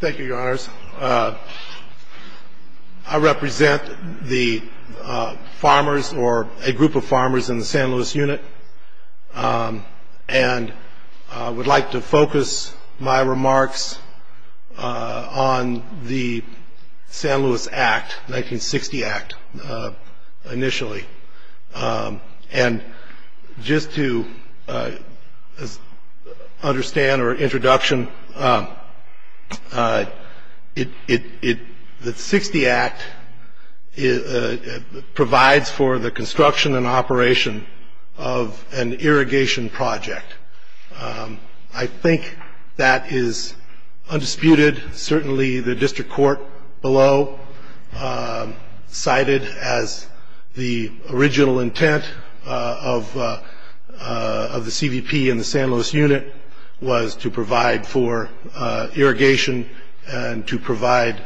Thank you, your honors. I represent the farmers, or a group of farmers in the San Luis Unit, and I would like to focus my remarks on the San Luis Act, 1960 Act, initially. And just to understand, or introduction, the 1960 Act provides for the construction and operation of an irrigation project. I think that is undisputed. Certainly the district court below cited as the original intent of the CVP and the San Luis Unit was to provide for irrigation and to provide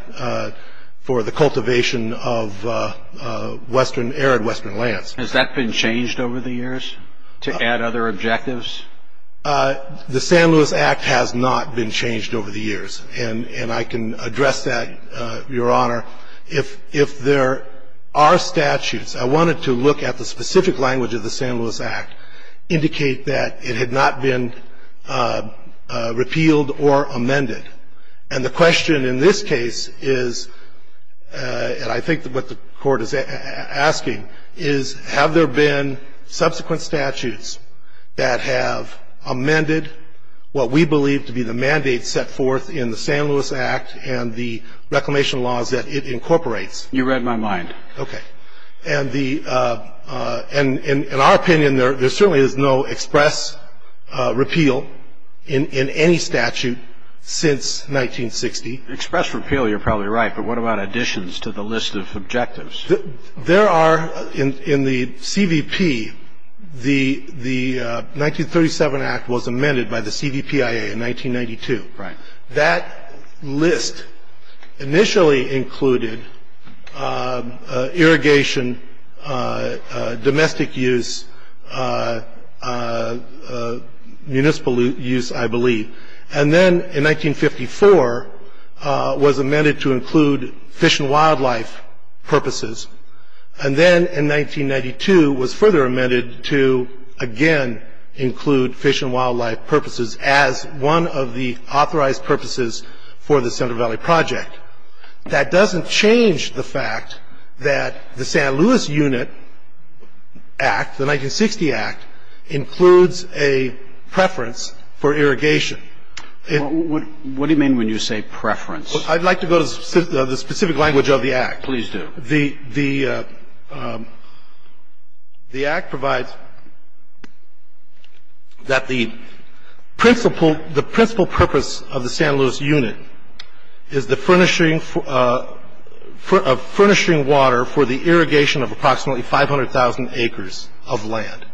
for the cultivation of arid western lands. Has that been changed over the years to add other objectives? The San Luis Act has not been changed over the years, and I can address that, your honor. If there are statutes, I wanted to look at the specific language of the San Luis Act, indicate that it had not been repealed or amended. And the question in this case is, and I think what the court is asking, is have there been subsequent statutes that have amended what we believe to be the mandate set forth in the San Luis Act and the reclamation laws that it incorporates? You read my mind. And in our opinion, there certainly is no express repeal in any statute since 1960. Express repeal, you're probably right, but what about additions to the list of objectives? There are, in the CVP, the 1937 Act was amended by the CVPIA in 1992. Right. That list initially included irrigation, domestic use, municipal use, I believe. And then in 1954 was amended to include fish and wildlife purposes. And then in 1992 was further amended to, again, include fish and wildlife purposes as one of the authorized purposes for the Central Valley Project. That doesn't change the fact that the San Luis Unit Act, the 1960 Act, includes a preference for irrigation. What do you mean when you say preference? I'd like to go to the specific language of the Act. Please do. The Act provides that the principal purpose of the San Luis Unit is the furnishing of water for the irrigation of approximately 500,000 acres of land.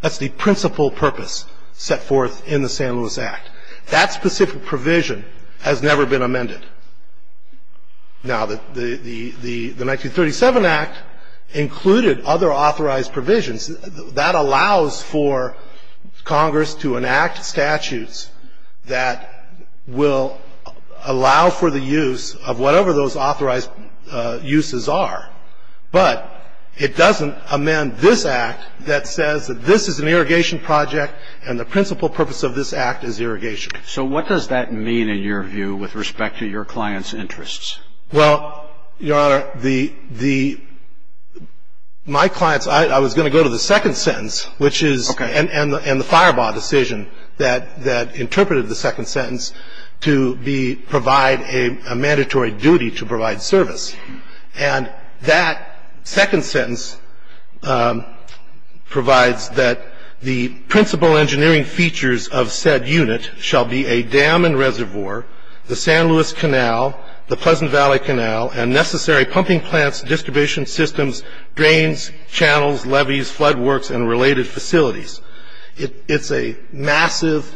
That's the principal purpose set forth in the San Luis Act. That specific provision has never been amended. Now, the 1937 Act included other authorized provisions. That allows for Congress to enact statutes that will allow for the use of whatever those authorized uses are. But it doesn't amend this Act that says that this is an irrigation project and the principal purpose of this Act is irrigation. So what does that mean, in your view, with respect to your client's interests? Well, Your Honor, my client's – I was going to go to the second sentence, which is – Okay. And the Firebaugh decision that interpreted the second sentence to provide a mandatory duty to provide service. And that second sentence provides that the principal engineering features of said unit shall be a dam and reservoir, the San Luis Canal, the Pleasant Valley Canal, and necessary pumping plants, distribution systems, drains, channels, levees, flood works, and related facilities. It's a massive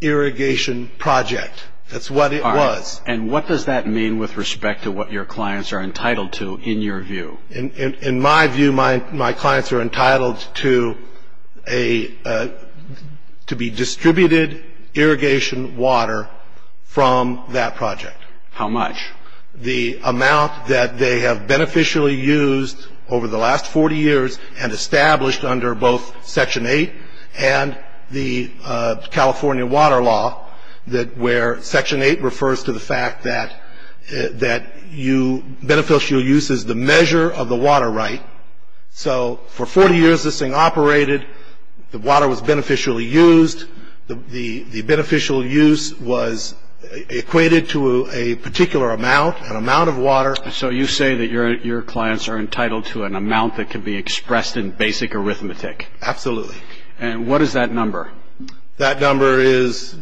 irrigation project. That's what it was. And what does that mean with respect to what your clients are entitled to, in your view? In my view, my clients are entitled to a – to be distributed irrigation water from that project. How much? The amount that they have beneficially used over the last 40 years and established under both Section 8 and the California Water Law, where Section 8 refers to the fact that you – beneficial use is the measure of the water right. So for 40 years this thing operated, the water was beneficially used, the beneficial use was equated to a particular amount, an amount of water. So you say that your clients are entitled to an amount that can be expressed in basic arithmetic. Absolutely. And what is that number? That number is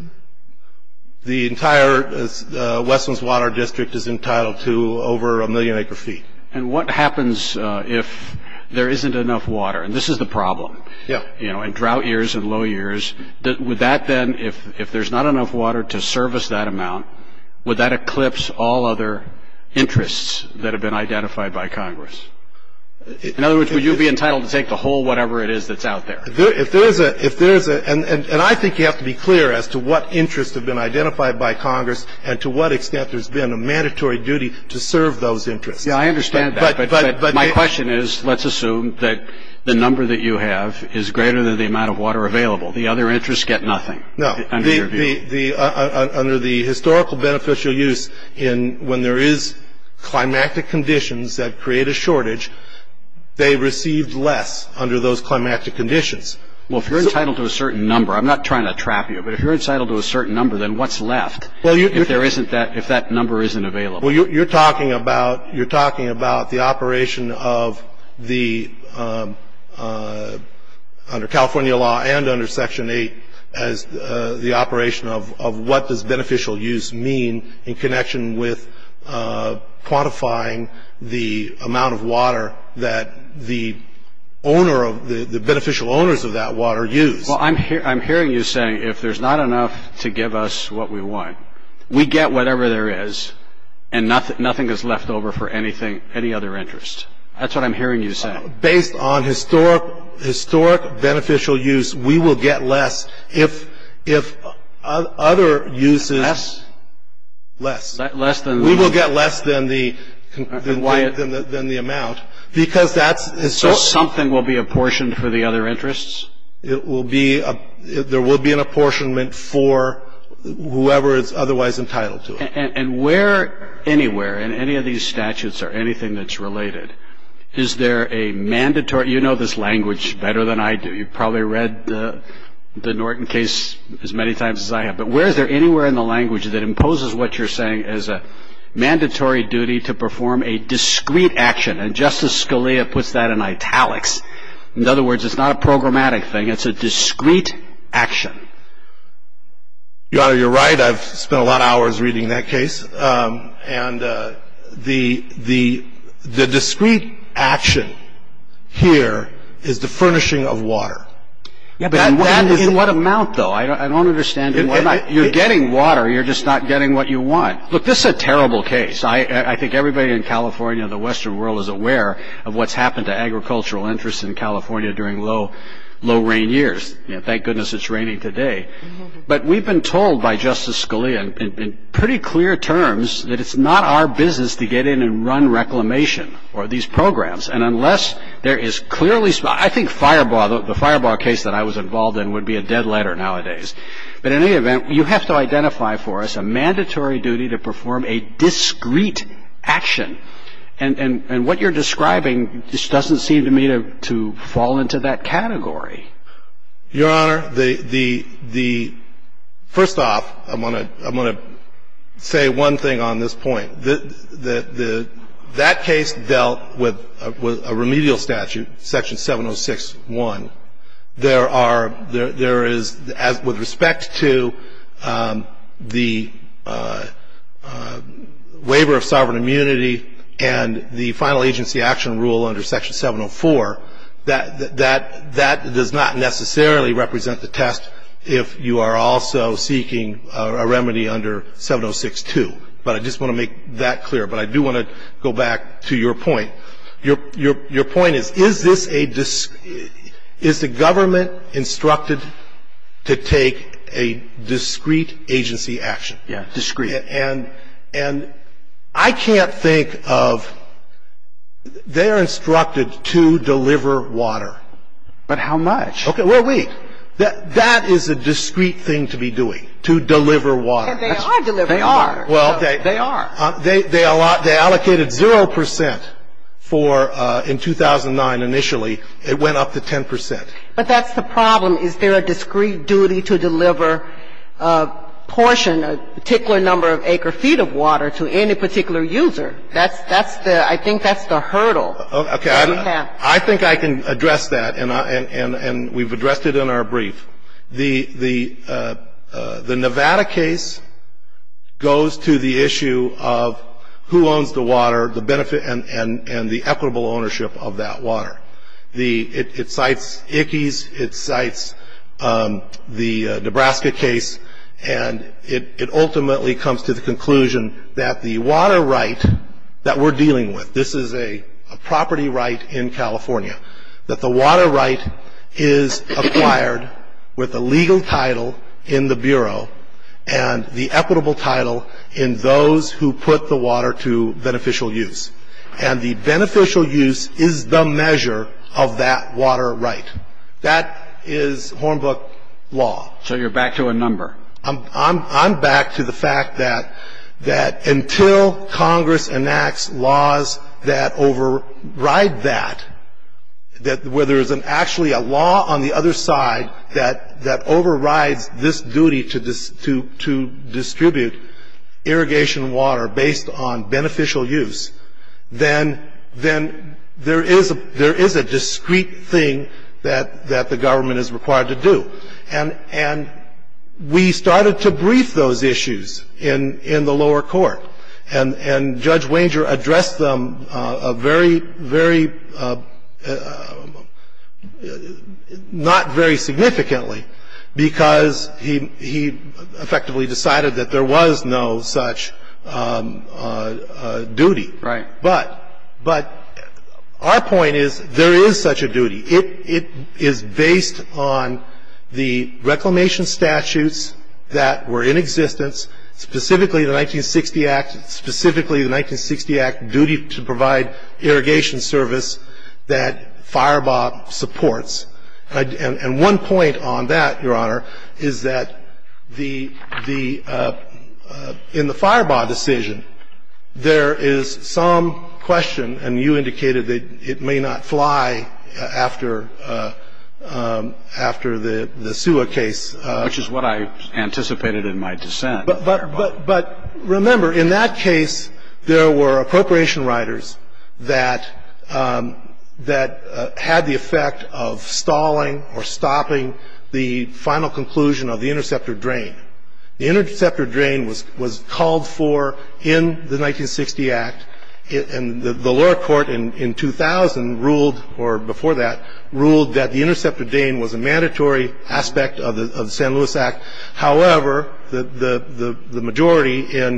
the entire – Westland's water district is entitled to over a million acre feet. And what happens if there isn't enough water? And this is the problem. Yeah. You know, in drought years and low years, would that then – if there's not enough water to service that amount, would that eclipse all other interests that have been identified by Congress? In other words, would you be entitled to take the whole whatever it is that's out there? If there is a – and I think you have to be clear as to what interests have been identified by Congress and to what extent there's been a mandatory duty to serve those interests. Yeah, I understand that, but my question is, let's assume that the number that you have is greater than the amount of water available. The other interests get nothing, under your view. No. Under the historical beneficial use, when there is climactic conditions that create a shortage, they receive less under those climactic conditions. Well, if you're entitled to a certain number – I'm not trying to trap you, but if you're entitled to a certain number, then what's left if that number isn't available? Well, you're talking about the operation of the – under California law and under Section 8, the operation of what does beneficial use mean in connection with quantifying the amount of water that the beneficial owners of that water use. Well, I'm hearing you saying if there's not enough to give us what we want, we get whatever there is and nothing is left over for any other interest. That's what I'm hearing you saying. Based on historic beneficial use, we will get less if other uses – Less? Less. We will get less than the amount because that's – So something will be apportioned for the other interests? There will be an apportionment for whoever is otherwise entitled to it. And where anywhere in any of these statutes or anything that's related, is there a mandatory – you know this language better than I do. You've probably read the Norton case as many times as I have. But where is there anywhere in the language that imposes what you're saying as a mandatory duty to perform a discrete action? And Justice Scalia puts that in italics. In other words, it's not a programmatic thing. It's a discrete action. Your Honor, you're right. I've spent a lot of hours reading that case. And the discrete action here is the furnishing of water. In what amount, though? I don't understand. You're getting water. You're just not getting what you want. Look, this is a terrible case. I think everybody in California and the Western world is aware of what's happened to agricultural interests in California during low rain years. Thank goodness it's raining today. But we've been told by Justice Scalia in pretty clear terms that it's not our business to get in and run reclamation or these programs. And unless there is clearly – I think Firebaugh, the Firebaugh case that I was involved in, would be a dead letter nowadays. But in any event, you have to identify for us a mandatory duty to perform a discrete action. And what you're describing just doesn't seem to me to fall into that category. Your Honor, the – first off, I'm going to say one thing on this point. That case dealt with a remedial statute, Section 706.1. There are – there is, with respect to the waiver of sovereign immunity and the final agency action rule under Section 704, that does not necessarily represent the test if you are also seeking a remedy under 706.2. But I just want to make that clear. But I do want to go back to your point. Your point is, is this a – is the government instructed to take a discrete agency action? Yeah, discrete. And I can't think of – they are instructed to deliver water. But how much? Okay. Well, wait. That is a discrete thing to be doing, to deliver water. And they are delivering water. They are. They are. They allocated 0 percent for – in 2009, initially, it went up to 10 percent. But that's the problem. Is there a discrete duty to deliver a portion, a particular number of acre feet of water to any particular user? That's the – I think that's the hurdle. Okay. I think I can address that. And we've addressed it in our brief. The Nevada case goes to the issue of who owns the water, the benefit and the equitable ownership of that water. The – it cites Ickes, it cites the Nebraska case, and it ultimately comes to the conclusion that the water right that we're dealing with – this is a property right in California – that the water right is acquired with a legal title in the Bureau and the equitable title in those who put the water to beneficial use. And the beneficial use is the measure of that water right. That is Hornbook law. So you're back to a number. I'm back to the fact that until Congress enacts laws that override that, where there is actually a law on the other side that overrides this duty to distribute irrigation water based on beneficial use, then there is a discrete thing that the government is required to do. And we started to brief those issues in the lower court. And Judge Wanger addressed them a very, very – not very significantly because he effectively decided that there was no such duty. Right. But our point is there is such a duty. It is based on the reclamation statutes that were in existence, specifically the 1960 Act – specifically the 1960 Act duty to provide irrigation service that Firebaugh supports. And one point on that, Your Honor, is that the – in the Firebaugh decision, there is some question, and you indicated that it may not fly after the Sewa case. Which is what I anticipated in my dissent. But remember, in that case, there were appropriation riders that had the effect of stalling or stopping the final conclusion of the interceptor drain. The interceptor drain was called for in the 1960 Act, and the lower court in 2000 ruled – or before that – ruled that the interceptor drain was a mandatory aspect of the San Luis Act. However, the majority in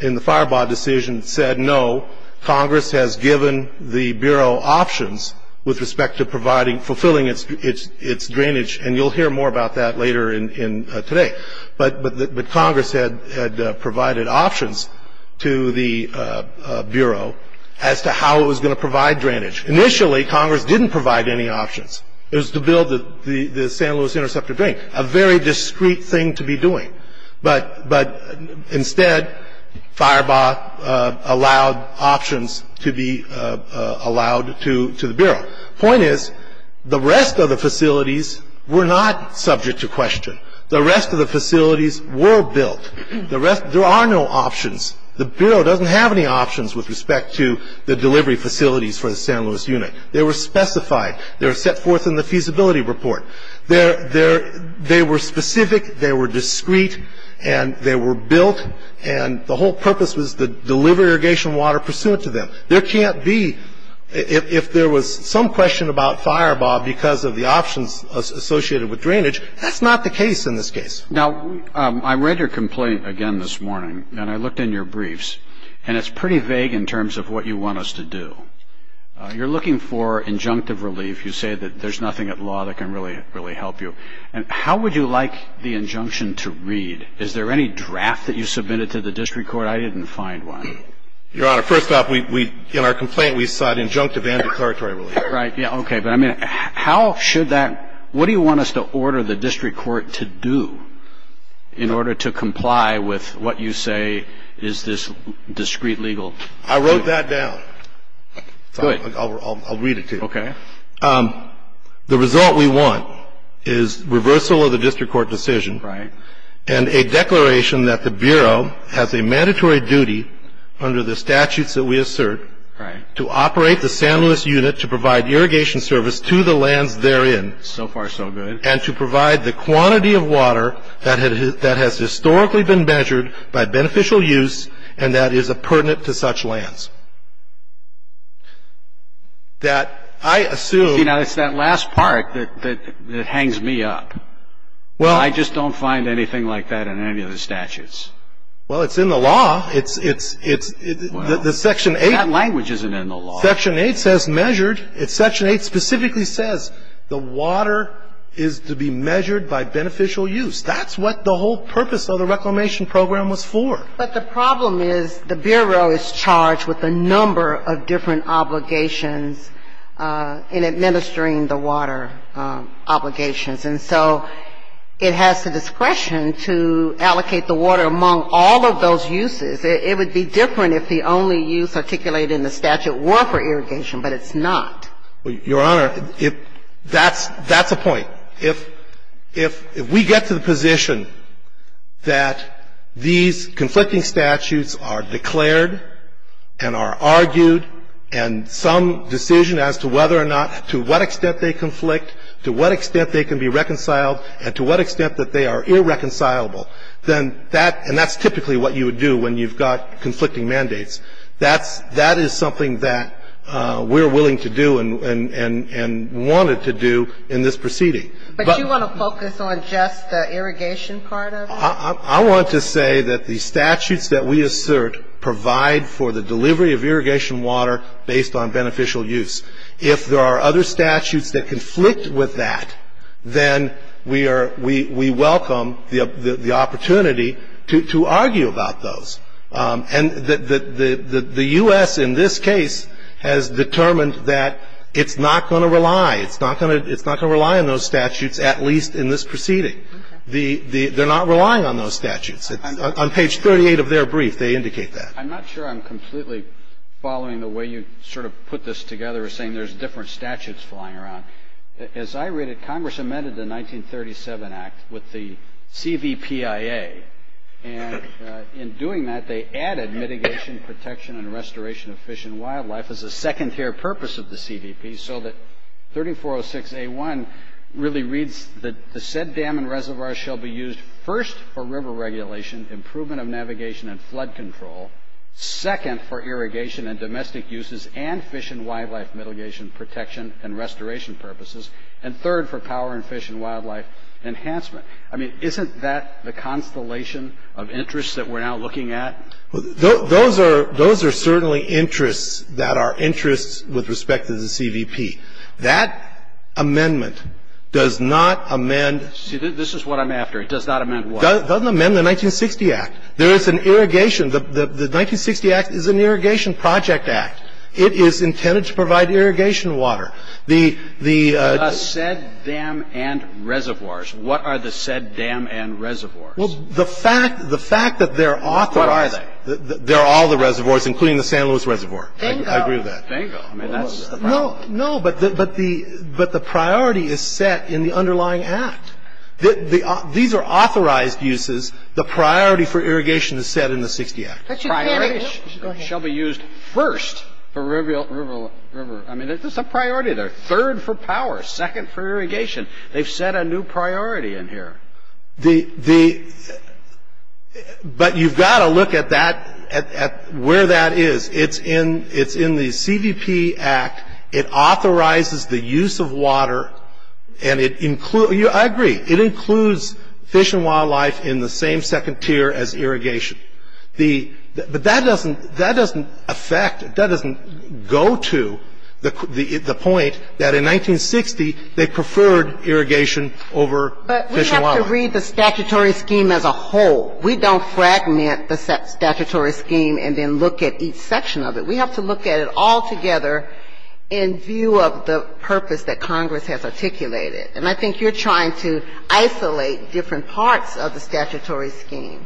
the Firebaugh decision said no. Congress has given the Bureau options with respect to providing – fulfilling its drainage. And you'll hear more about that later today. But Congress had provided options to the Bureau as to how it was going to provide drainage. Initially, Congress didn't provide any options. It was to build the San Luis interceptor drain. A very discreet thing to be doing. But instead, Firebaugh allowed options to be allowed to the Bureau. The point is, the rest of the facilities were not subject to question. The rest of the facilities were built. There are no options. The Bureau doesn't have any options with respect to the delivery facilities for the San Luis unit. They were specified. They were set forth in the feasibility report. They were specific. They were discreet. And they were built. And the whole purpose was to deliver irrigation water pursuant to them. There can't be – if there was some question about Firebaugh because of the options associated with drainage, that's not the case in this case. Now, I read your complaint again this morning, and I looked in your briefs, and it's pretty vague in terms of what you want us to do. You're looking for injunctive relief. You say that there's nothing at law that can really help you. And how would you like the injunction to read? Is there any draft that you submitted to the district court? I didn't find one. Your Honor, first off, we – in our complaint, we cite injunctive and declaratory relief. Right. Yeah, okay. But I mean, how should that – what do you want us to order the district court to do in order to comply with what you say is this discreet legal – I wrote that down. Good. I'll read it to you. Okay. The result we want is reversal of the district court decision. Right. And a declaration that the Bureau has a mandatory duty under the statutes that we assert to operate the San Luis unit to provide irrigation service to the lands therein. So far, so good. And to provide the quantity of water that has historically been measured by beneficial use and that is pertinent to such lands. That I assume – See, now, it's that last part that hangs me up. Well – I just don't find anything like that in any of the statutes. Well, it's in the law. It's – it's – the Section 8 – Well, that language isn't in the law. Section 8 says measured. Section 8 specifically says the water is to be measured by beneficial use. That's what the whole purpose of the reclamation program was for. But the problem is the Bureau is charged with a number of different obligations in administering the water obligations. And so it has the discretion to allocate the water among all of those uses. It would be different if the only use articulated in the statute were for irrigation, but it's not. Your Honor, if – that's – that's the point. If we get to the position that these conflicting statutes are declared and are argued and some decision as to whether or not – to what extent they conflict, to what extent they can be reconciled, and to what extent that they are irreconcilable, then that – and that's typically what you would do when you've got conflicting mandates. That's – that is something that we're willing to do and wanted to do in this proceeding. But do you want to focus on just the irrigation part of it? I want to say that the statutes that we assert provide for the delivery of irrigation water based on beneficial use. If there are other statutes that conflict with that, then we are – we welcome the opportunity to argue about those. And the U.S. in this case has determined that it's not going to rely. It's not going to – it's not going to rely on those statutes, at least in this proceeding. They're not relying on those statutes. On page 38 of their brief, they indicate that. I'm not sure I'm completely following the way you sort of put this together, saying there's different statutes flying around. As I read it, Congress amended the 1937 Act with the CVPIA. And in doing that, they added mitigation, protection, and restoration of fish and wildlife as a second-tier purpose of the CVPIA so that 3406A1 really reads that the said dam and reservoir shall be used first for river regulation, improvement of navigation and flood control, second for irrigation and domestic uses, and fish and wildlife mitigation, protection, and restoration purposes, and third for power and fish and wildlife enhancement. I mean, isn't that the constellation of interests that we're now looking at? Those are certainly interests that are interests with respect to the CVP. That amendment does not amend. See, this is what I'm after. It does not amend what? It doesn't amend the 1960 Act. There is an irrigation. The 1960 Act is an irrigation project act. It is intended to provide irrigation water. It's not intended to provide irrigation water. It's intended to provide water. It's intended to provide water. The said dam and reservoirs, what are the said dam and reservoirs? Well, the fact that they're authorized What are they? They're all the reservoirs, including the San Luis Reservoir. I agree with that. Bingo. Bingo. I mean, that's the problem. No, no. But the priority is set in the underlying Act. These are authorized uses. The priority for irrigation is set in the 1960 Act. Priority shall be used first for river. I mean, it's a priority there. Third for power. Second for irrigation. They've set a new priority in here. But you've got to look at that, at where that is. It's in the CVP Act. It authorizes the use of water. And it includes, I agree, it includes fish and wildlife in the same second tier as irrigation. But that doesn't affect, that doesn't go to the point that in 1960 they preferred irrigation over fish and wildlife. But we have to read the statutory scheme as a whole. We don't fragment the statutory scheme and then look at each section of it. We have to look at it all together in view of the purpose that Congress has articulated. And I think you're trying to isolate different parts of the statutory scheme.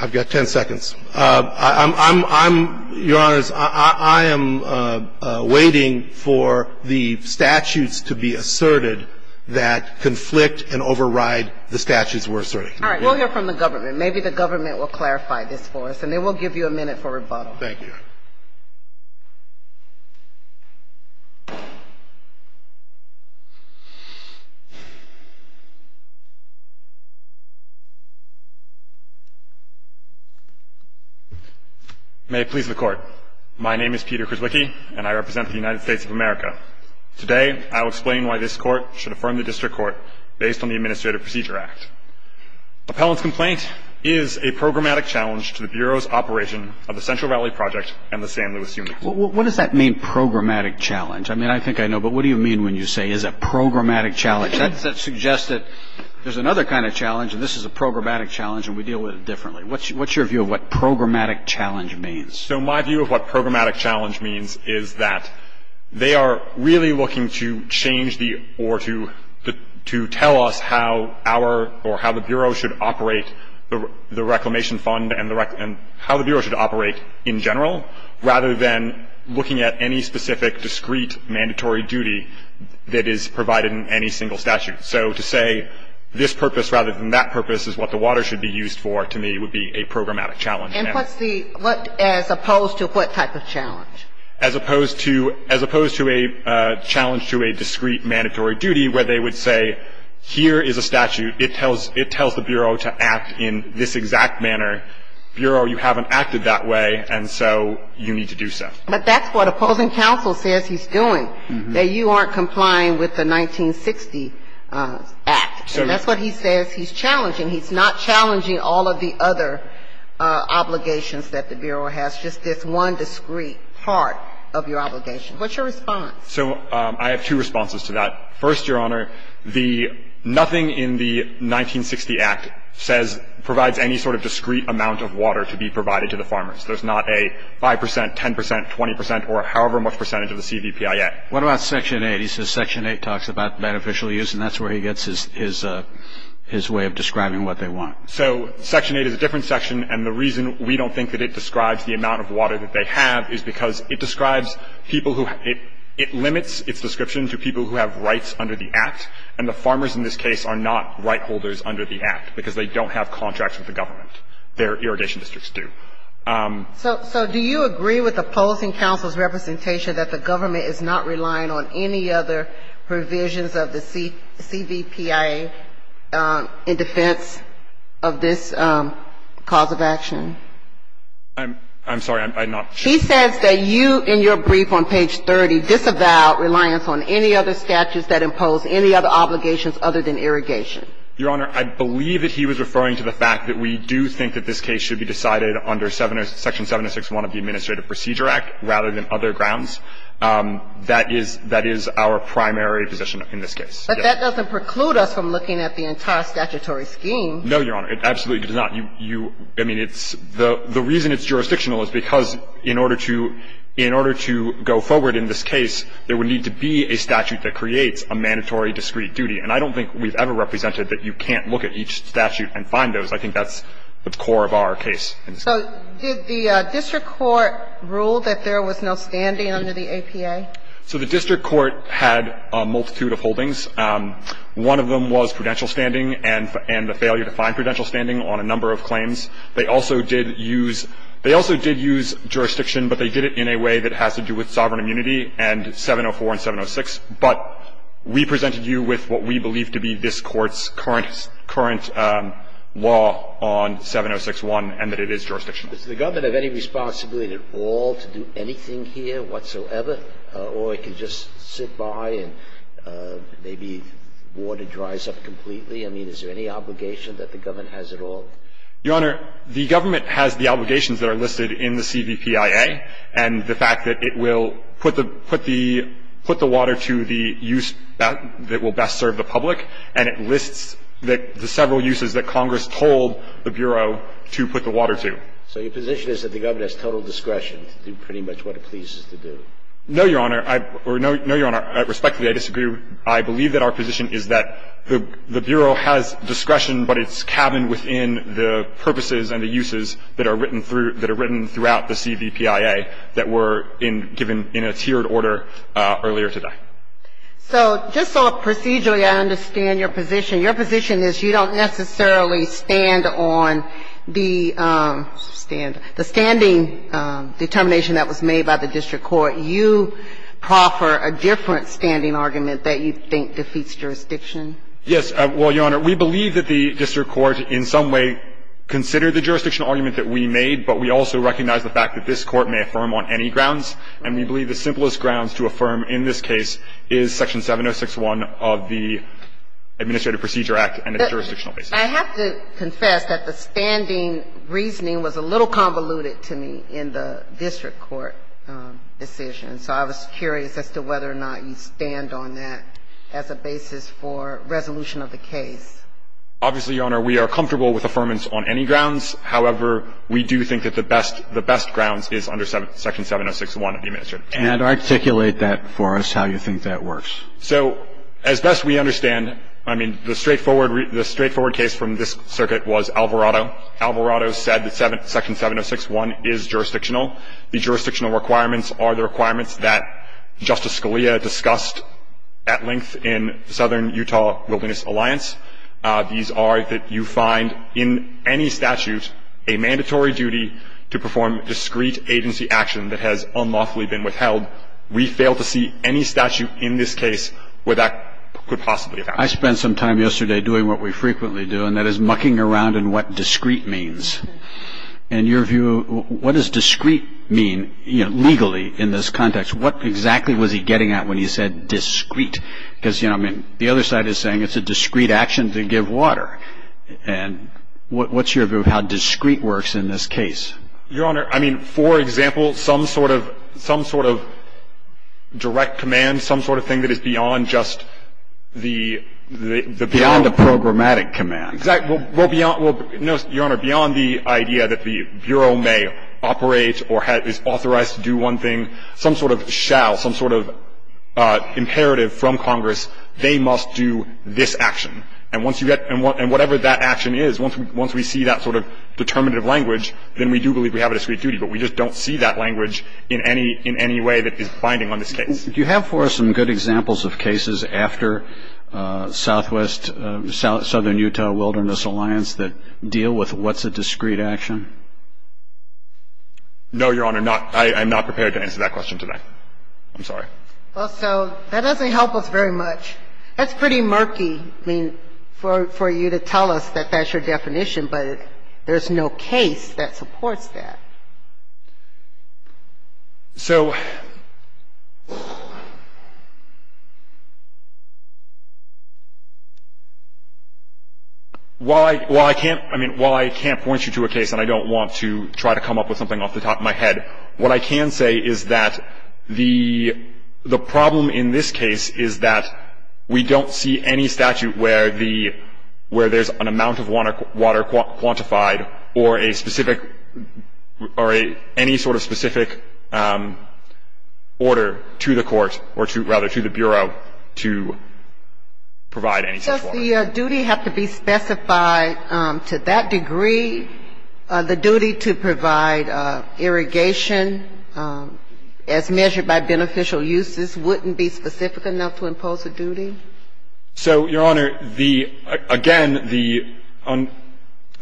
I've got ten seconds. I'm, Your Honors, I am waiting for the statutes to be asserted that conflict and override the statutes we're asserting. All right. We'll hear from the government. Maybe the government will clarify this for us. And then we'll give you a minute for rebuttal. Thank you, Your Honor. May it please the Court. My name is Peter Krzwicki, and I represent the United States of America. Today I will explain why this Court should affirm the District Court based on the Administrative Procedure Act. Appellant's complaint is a programmatic challenge to the Bureau's operation of the Central Valley Project and the San Luis Union. What does that mean, programmatic challenge? I mean, I think I know. But what do you mean when you say it's a programmatic challenge? That suggests that there's another kind of challenge, and this is a programmatic challenge, and we deal with it differently. What's your view of what programmatic challenge means? So my view of what programmatic challenge means is that they are really looking to change the or to tell us how our or how the Bureau should operate the Reclamation Fund and how the Bureau should operate in general, rather than looking at any specific, discrete, mandatory duty that is provided in any single statute. So to say this purpose rather than that purpose is what the water should be used for, to me, would be a programmatic challenge. And as opposed to what type of challenge? As opposed to a challenge to a discrete mandatory duty where they would say, here is a statute. It tells the Bureau to act in this exact manner. Bureau, you haven't acted that way, and so you need to do so. But that's what opposing counsel says he's doing, that you aren't complying with the 1960 Act. So that's what he says he's challenging. He's not challenging all of the other obligations that the Bureau has, just this one discrete part of your obligation. What's your response? So I have two responses to that. First, Your Honor, the nothing in the 1960 Act says provides any sort of discrete amount of water to be provided to the farmers. There's not a 5 percent, 10 percent, 20 percent, or however much percentage of the CVPIA. What about Section 8? He says Section 8 talks about beneficial use, and that's where he gets his way of describing what they want. So Section 8 is a different section, and the reason we don't think that it describes the amount of water that they have is because it describes people who – it limits its description to people who have rights under the Act, and the farmers in this case are not right holders under the Act because they don't have contracts with the government. Their irrigation districts do. So do you agree with the Policing Council's representation that the government is not relying on any other provisions of the CVPIA in defense of this cause of action? I'm sorry. I'm not sure. He says that you, in your brief on page 30, disavow reliance on any other statutes that impose any other obligations other than irrigation. Your Honor, I believe that he was referring to the fact that we do think that this case should be decided under Section 761 of the Administrative Procedure Act rather than other grounds. That is – that is our primary position in this case. But that doesn't preclude us from looking at the entire statutory scheme. No, Your Honor. It absolutely does not. You – I mean, it's – the reason it's jurisdictional is because in order to – in order to go forward in this case, there would need to be a statute that creates a mandatory discrete duty. And I don't think we've ever represented that you can't look at each statute and find those. I think that's the core of our case in this case. So did the district court rule that there was no standing under the APA? So the district court had a multitude of holdings. One of them was prudential standing and the failure to find prudential standing on a number of claims. They also did use – they also did use jurisdiction, but they did it in a way that has to do with sovereign immunity and 704 and 706. But we presented you with what we believe to be this Court's current – current law on 706-1 and that it is jurisdictional. Does the government have any responsibility at all to do anything here whatsoever? Or it can just sit by and maybe water dries up completely? I mean, is there any obligation that the government has at all? Your Honor, the government has the obligations that are listed in the CVPIA and the use that will best serve the public. And it lists the several uses that Congress told the Bureau to put the water to. So your position is that the government has total discretion to do pretty much what it pleases to do? No, Your Honor. Or no, Your Honor, respectfully, I disagree. I believe that our position is that the Bureau has discretion, but it's cabined within the purposes and the uses that are written through – that are written earlier today. So just sort of procedurally, I understand your position. Your position is you don't necessarily stand on the standing determination that was made by the district court. You proffer a different standing argument that you think defeats jurisdiction. Yes. Well, Your Honor, we believe that the district court in some way considered the jurisdictional argument that we made, but we also recognize the fact that this grounds to affirm in this case is Section 706.1 of the Administrative Procedure Act and its jurisdictional basis. I have to confess that the standing reasoning was a little convoluted to me in the district court decision. So I was curious as to whether or not you stand on that as a basis for resolution of the case. Obviously, Your Honor, we are comfortable with affirmance on any grounds. However, we do think that the best grounds is under Section 706.1 of the Administrative Procedure Act. So can you articulate that for us, how you think that works? So as best we understand, I mean, the straightforward case from this circuit was Alvarado. Alvarado said that Section 706.1 is jurisdictional. The jurisdictional requirements are the requirements that Justice Scalia discussed at length in Southern Utah Wilderness Alliance. These are that you find in any statute a mandatory duty to perform discrete agency action that has unlawfully been withheld. We fail to see any statute in this case where that could possibly have happened. I spent some time yesterday doing what we frequently do, and that is mucking around in what discrete means. In your view, what does discrete mean, you know, legally in this context? What exactly was he getting at when he said discrete? Because, you know, I mean, the other side is saying it's a discrete action to give water. And what's your view of how discrete works in this case? Your Honor, I mean, for example, some sort of direct command, some sort of thing that is beyond just the Beyond the programmatic command. Well, beyond the idea that the Bureau may operate or is authorized to do one thing, some sort of shall, some sort of imperative from Congress, they must do this action. And once you get – and whatever that action is, once we see that sort of determinative language, then we do believe we have a discrete duty. But we just don't see that language in any way that is binding on this case. Do you have for us some good examples of cases after Southwest – Southern Utah Wilderness Alliance that deal with what's a discrete action? No, Your Honor. I'm not prepared to answer that question today. I'm sorry. Well, so that doesn't help us very much. That's pretty murky, I mean, for you to tell us that that's your definition, but there's no case that supports that. So while I can't – I mean, while I can't point you to a case and I don't want to try to come up with something off the top of my head, what I can say is that the problem in this case is that we don't see any statute where the – where there's an amount of water quantified or a specific – or any sort of specific order to the court or to – rather, to the Bureau to provide any such water. Does the duty have to be specified to that degree? The duty to provide irrigation as measured by beneficial uses wouldn't be specific enough to impose a duty? So, Your Honor, the – again, the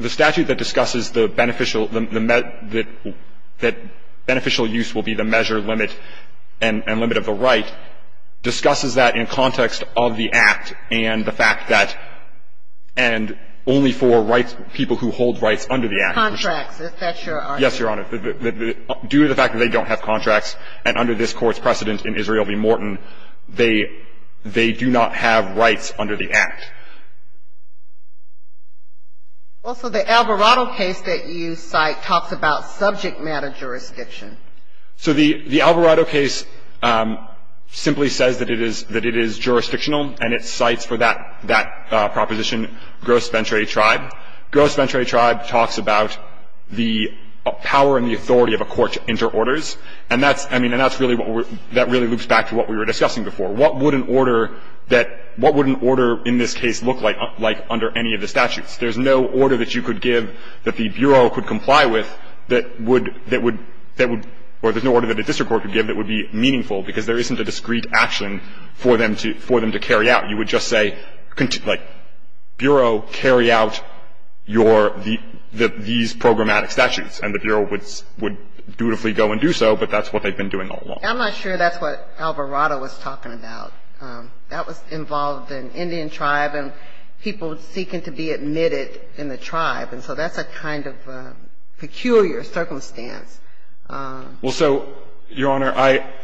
statute that discusses the beneficial – that beneficial use will be the measure limit and limit of the right discusses that in context of the Act and the fact that – and only for rights – people who hold rights under the Act. Contracts. Is that your argument? Yes, Your Honor. Due to the fact that they don't have contracts and under this Court's precedent in Israel v. Morton, they – they do not have rights under the Act. Also, the Alvarado case that you cite talks about subject matter jurisdiction. So the – the Alvarado case simply says that it is – that it is jurisdictional and it cites for that – that proposition Gross Venturi Tribe. Gross Venturi Tribe talks about the power and the authority of a court to enter orders, and that's – I mean, and that's really what we're – that really loops back to what we were discussing before. What would an order that – what would an order in this case look like under any of the statutes? There's no order that you could give that the Bureau could comply with that would – that would – that would – or there's no order that a district court could give that would be meaningful because there isn't a discrete action for them to – for them to carry out. You would just say, like, Bureau, carry out your – the – these programmatic statutes, and the Bureau would – would dutifully go and do so, but that's what they've been doing all along. I'm not sure that's what Alvarado was talking about. That was involved in Indian tribe and people seeking to be admitted in the tribe. And so that's a kind of peculiar circumstance. Well, so, Your Honor, I –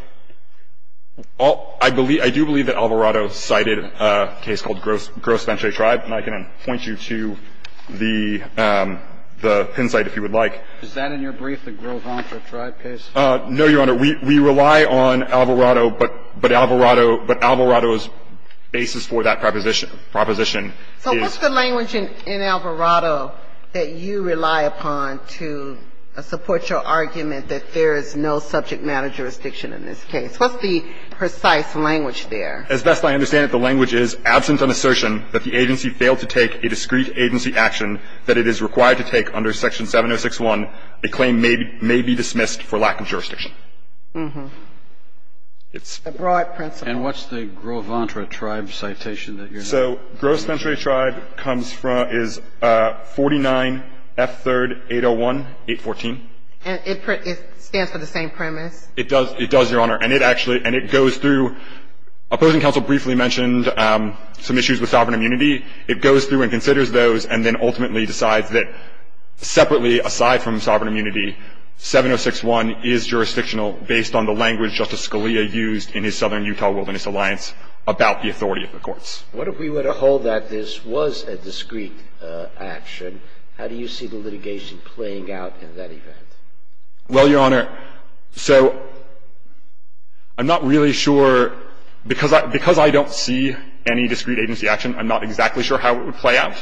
I believe – I do believe that Alvarado cited a case called Gross Venturi Tribe. And I can point you to the – the pin site if you would like. Is that in your brief, the Gross Venturi Tribe case? No, Your Honor. We – we rely on Alvarado, but – but Alvarado – but Alvarado's basis for that proposition – proposition is – So what's the language in – in Alvarado that you rely upon to support your argument that there is no subject matter jurisdiction in this case? What's the precise language there? As best I understand it, the language is, absent an assertion that the agency failed to take a discreet agency action that it is required to take under Section 706.1, a claim may be – may be dismissed for lack of jurisdiction. It's a broad principle. And what's the Gross Venturi Tribe citation that you're not using? So Gross Venturi Tribe comes from – is 49F3801.814. And it – it stands for the same premise? It does. It does, Your Honor. And it actually – and it goes through – opposing counsel briefly mentioned some issues with sovereign immunity. It goes through and considers those and then ultimately decides that separately, aside from sovereign immunity, 706.1 is jurisdictional based on the language Justice Scalia used in his Southern Utah Wilderness Alliance about the authority of the courts. What if we were to hold that this was a discreet action? How do you see the litigation playing out in that event? Well, Your Honor, so I'm not really sure. Because I – because I don't see any discreet agency action, I'm not exactly sure how it would play out.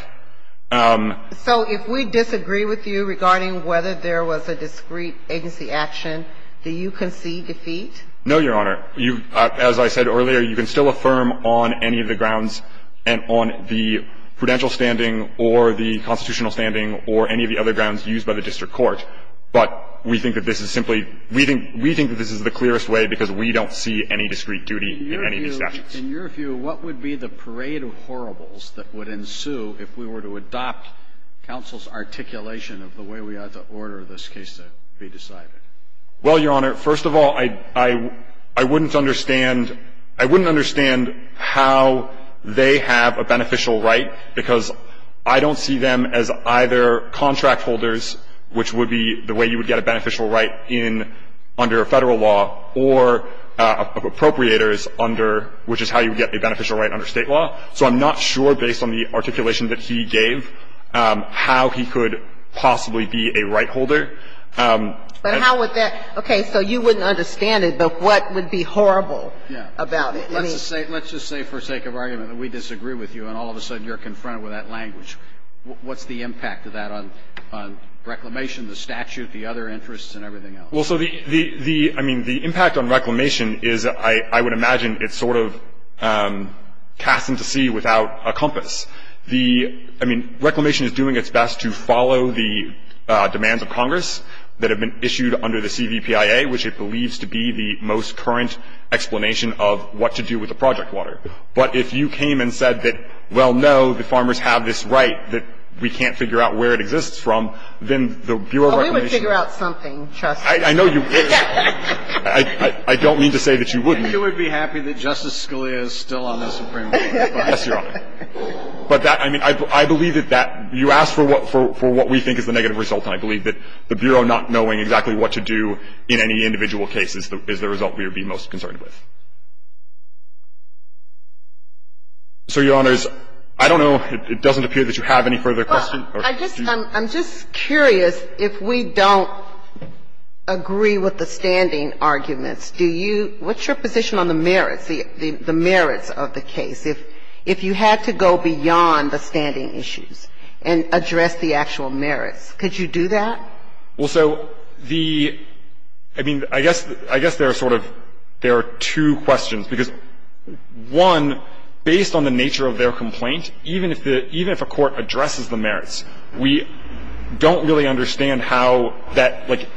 So if we disagree with you regarding whether there was a discreet agency action, do you concede defeat? No, Your Honor. You – as I said earlier, you can still affirm on any of the grounds and on the prudential standing or the constitutional standing or any of the other grounds used by the district court, but we think that this is simply – we think that this is the clearest way because we don't see any discreet duty in any of these statutes. In your view, what would be the parade of horribles that would ensue if we were to adopt counsel's articulation of the way we ought to order this case to be decided? Well, Your Honor, first of all, I wouldn't understand – I wouldn't understand how they have a beneficial right, because I don't see them as either contract holders, which would be the way you would get a beneficial right in – under Federal law, or appropriators under – which is how you would get a beneficial right under State law. So I'm not sure, based on the articulation that he gave, how he could possibly be a right holder. But how would that – okay. So you wouldn't understand it, but what would be horrible about it? Yeah. Let's just say – let's just say for sake of argument that we disagree with you and all of a sudden you're confronted with that language. What's the impact of that on – on reclamation, the statute, the other interests, and everything else? Well, so the – the – I mean, the impact on reclamation is, I would imagine, it's sort of cast into sea without a compass. The – I mean, reclamation is doing its best to follow the demands of Congress that have been issued under the CVPIA, which it believes to be the most current explanation of what to do with the project water. But if you came and said that, well, no, the farmers have this right that we can't figure out where it exists from, then the Bureau of Reclamation – Well, we would figure out something, trust me. I know you would. I don't mean to say that you wouldn't. And you would be happy that Justice Scalia is still on the Supreme Court. Yes, Your Honor. But that – I mean, I believe that that – you asked for what – for what we think is the negative result, and I believe that the Bureau not knowing exactly what to do in any individual case is the result we would be most concerned with. So, Your Honors, I don't know. It doesn't appear that you have any further questions. Well, I just – I'm just curious, if we don't agree with the standing arguments, do you – what's your position on the merits, the merits of the case? If you had to go beyond the standing issues and address the actual merits, could you do that? Well, so the – I mean, I guess – I guess there are sort of – there are two questions, because, one, based on the nature of their complaint, even if the – even if a court addresses the merits, we don't really understand how that – like,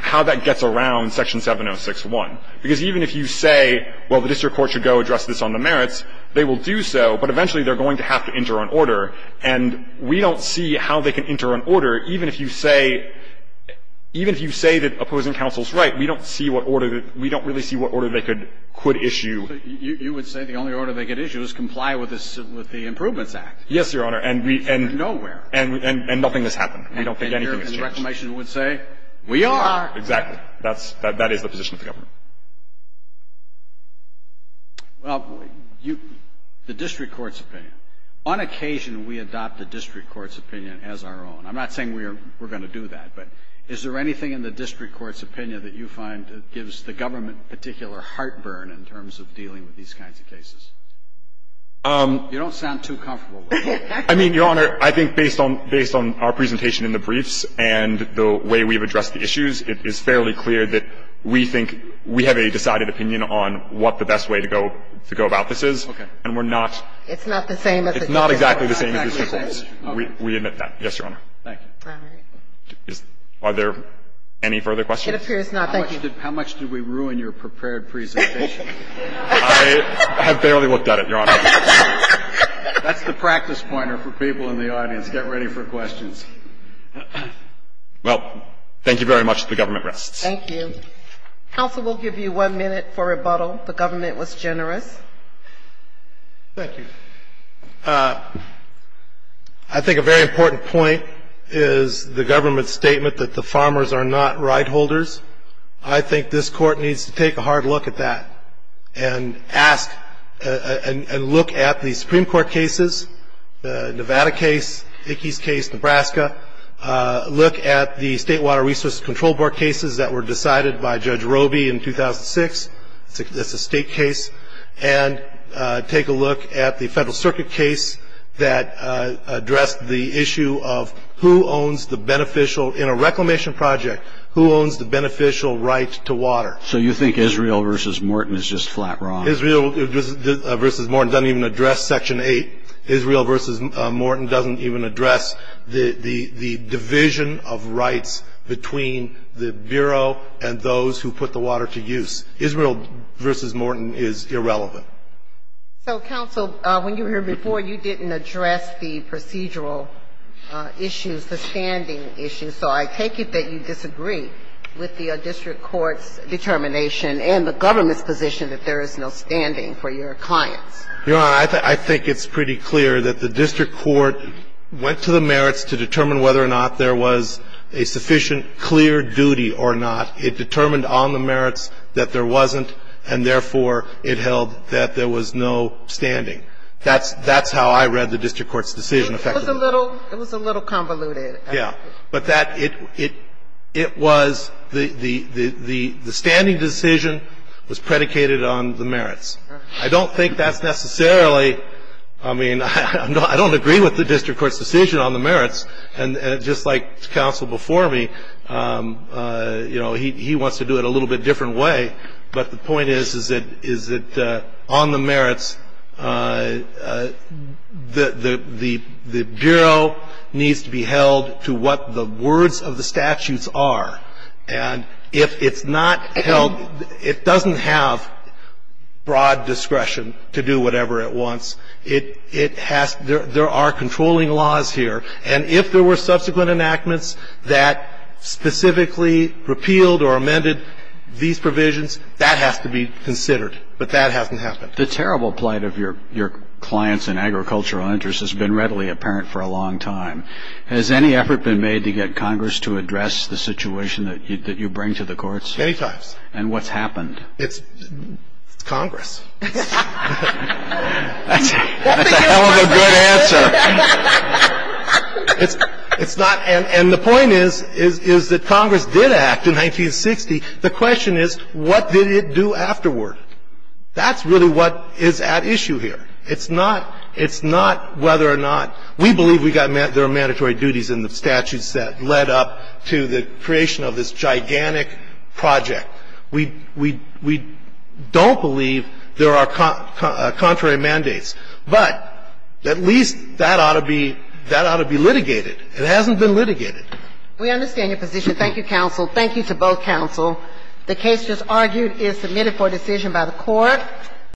how that gets around Section 706-1. Because even if you say, well, the district court should go address this on the merits, they will do so, but eventually they're going to have to enter an order. And we don't see how they can enter an order. Even if you say – even if you say that opposing counsel is right, we don't see what order – we don't really see what order they could issue. You would say the only order they could issue is comply with the Improvements Act. Yes, Your Honor. And we – and – Nowhere. And nothing has happened. We don't think anything has changed. And your reclamation would say, we are. Exactly. That's – that is the position of the government. Well, you – the district court's opinion. On occasion, we adopt the district court's opinion as our own. I'm not saying we are – we're going to do that, but is there anything in the district court's opinion that you find gives the government particular heartburn in terms of dealing with these kinds of cases? You don't sound too comfortable with it. I mean, Your Honor, I think based on – based on our presentation in the briefs and the way we've addressed the issues, it is fairly clear that we think we have a decided opinion on what the best way to go – to go about this is. Okay. And we're not – It's not the same as the district court. It's not exactly the same as the district court. We admit that. Yes, Your Honor. Thank you. All right. Are there any further questions? It appears not. Thank you. How much did – how much did we ruin your prepared presentation? I have barely looked at it, Your Honor. That's the practice pointer for people in the audience. Get ready for questions. Well, thank you very much. The government rests. Thank you. Counsel will give you one minute for rebuttal. The government was generous. Thank you. I think a very important point is the government's statement that the farmers are not rideholders. I think this Court needs to take a hard look at that and ask – and look at the Supreme Look at the State Water Resources Control Board cases that were decided by Judge Roby in 2006. That's a state case. And take a look at the Federal Circuit case that addressed the issue of who owns the beneficial – in a reclamation project, who owns the beneficial right to water. So you think Israel versus Morton is just flat wrong? Israel versus Morton doesn't even address Section 8. Israel versus Morton doesn't even address the division of rights between the Bureau and those who put the water to use. Israel versus Morton is irrelevant. So, Counsel, when you were here before, you didn't address the procedural issues, the standing issues. So I take it that you disagree with the district court's determination and the government's position that there is no standing for your clients. Your Honor, I think it's pretty clear that the district court went to the merits to determine whether or not there was a sufficient clear duty or not. It determined on the merits that there wasn't, and therefore, it held that there was no standing. That's how I read the district court's decision, effectively. It was a little convoluted. Yeah. But that – it was – the standing decision was predicated on the merits. I don't think that's necessarily – I mean, I don't agree with the district court's decision on the merits. And just like Counsel before me, you know, he wants to do it a little bit different way. But the point is, is that on the merits, the Bureau needs to be held to what the words of the statutes are. And if it's not held – it doesn't have broad discretion to do whatever it wants. It has – there are controlling laws here. And if there were subsequent enactments that specifically repealed or amended these provisions, that has to be considered. But that hasn't happened. The terrible plight of your clients and agricultural interests has been readily apparent for a long time. Has any effort been made to get Congress to address the situation that you bring to the courts? Many times. And what's happened? It's Congress. That's a hell of a good answer. It's not – and the point is, is that Congress did act in 1960. The question is, what did it do afterward? That's really what is at issue here. It's not whether or not – we believe there are mandatory duties in the statutes that led up to the creation of this gigantic project. We don't believe there are contrary mandates. But at least that ought to be litigated. It hasn't been litigated. We understand your position. Thank you, counsel. Thank you to both counsel. The case just argued is submitted for decision by the Court.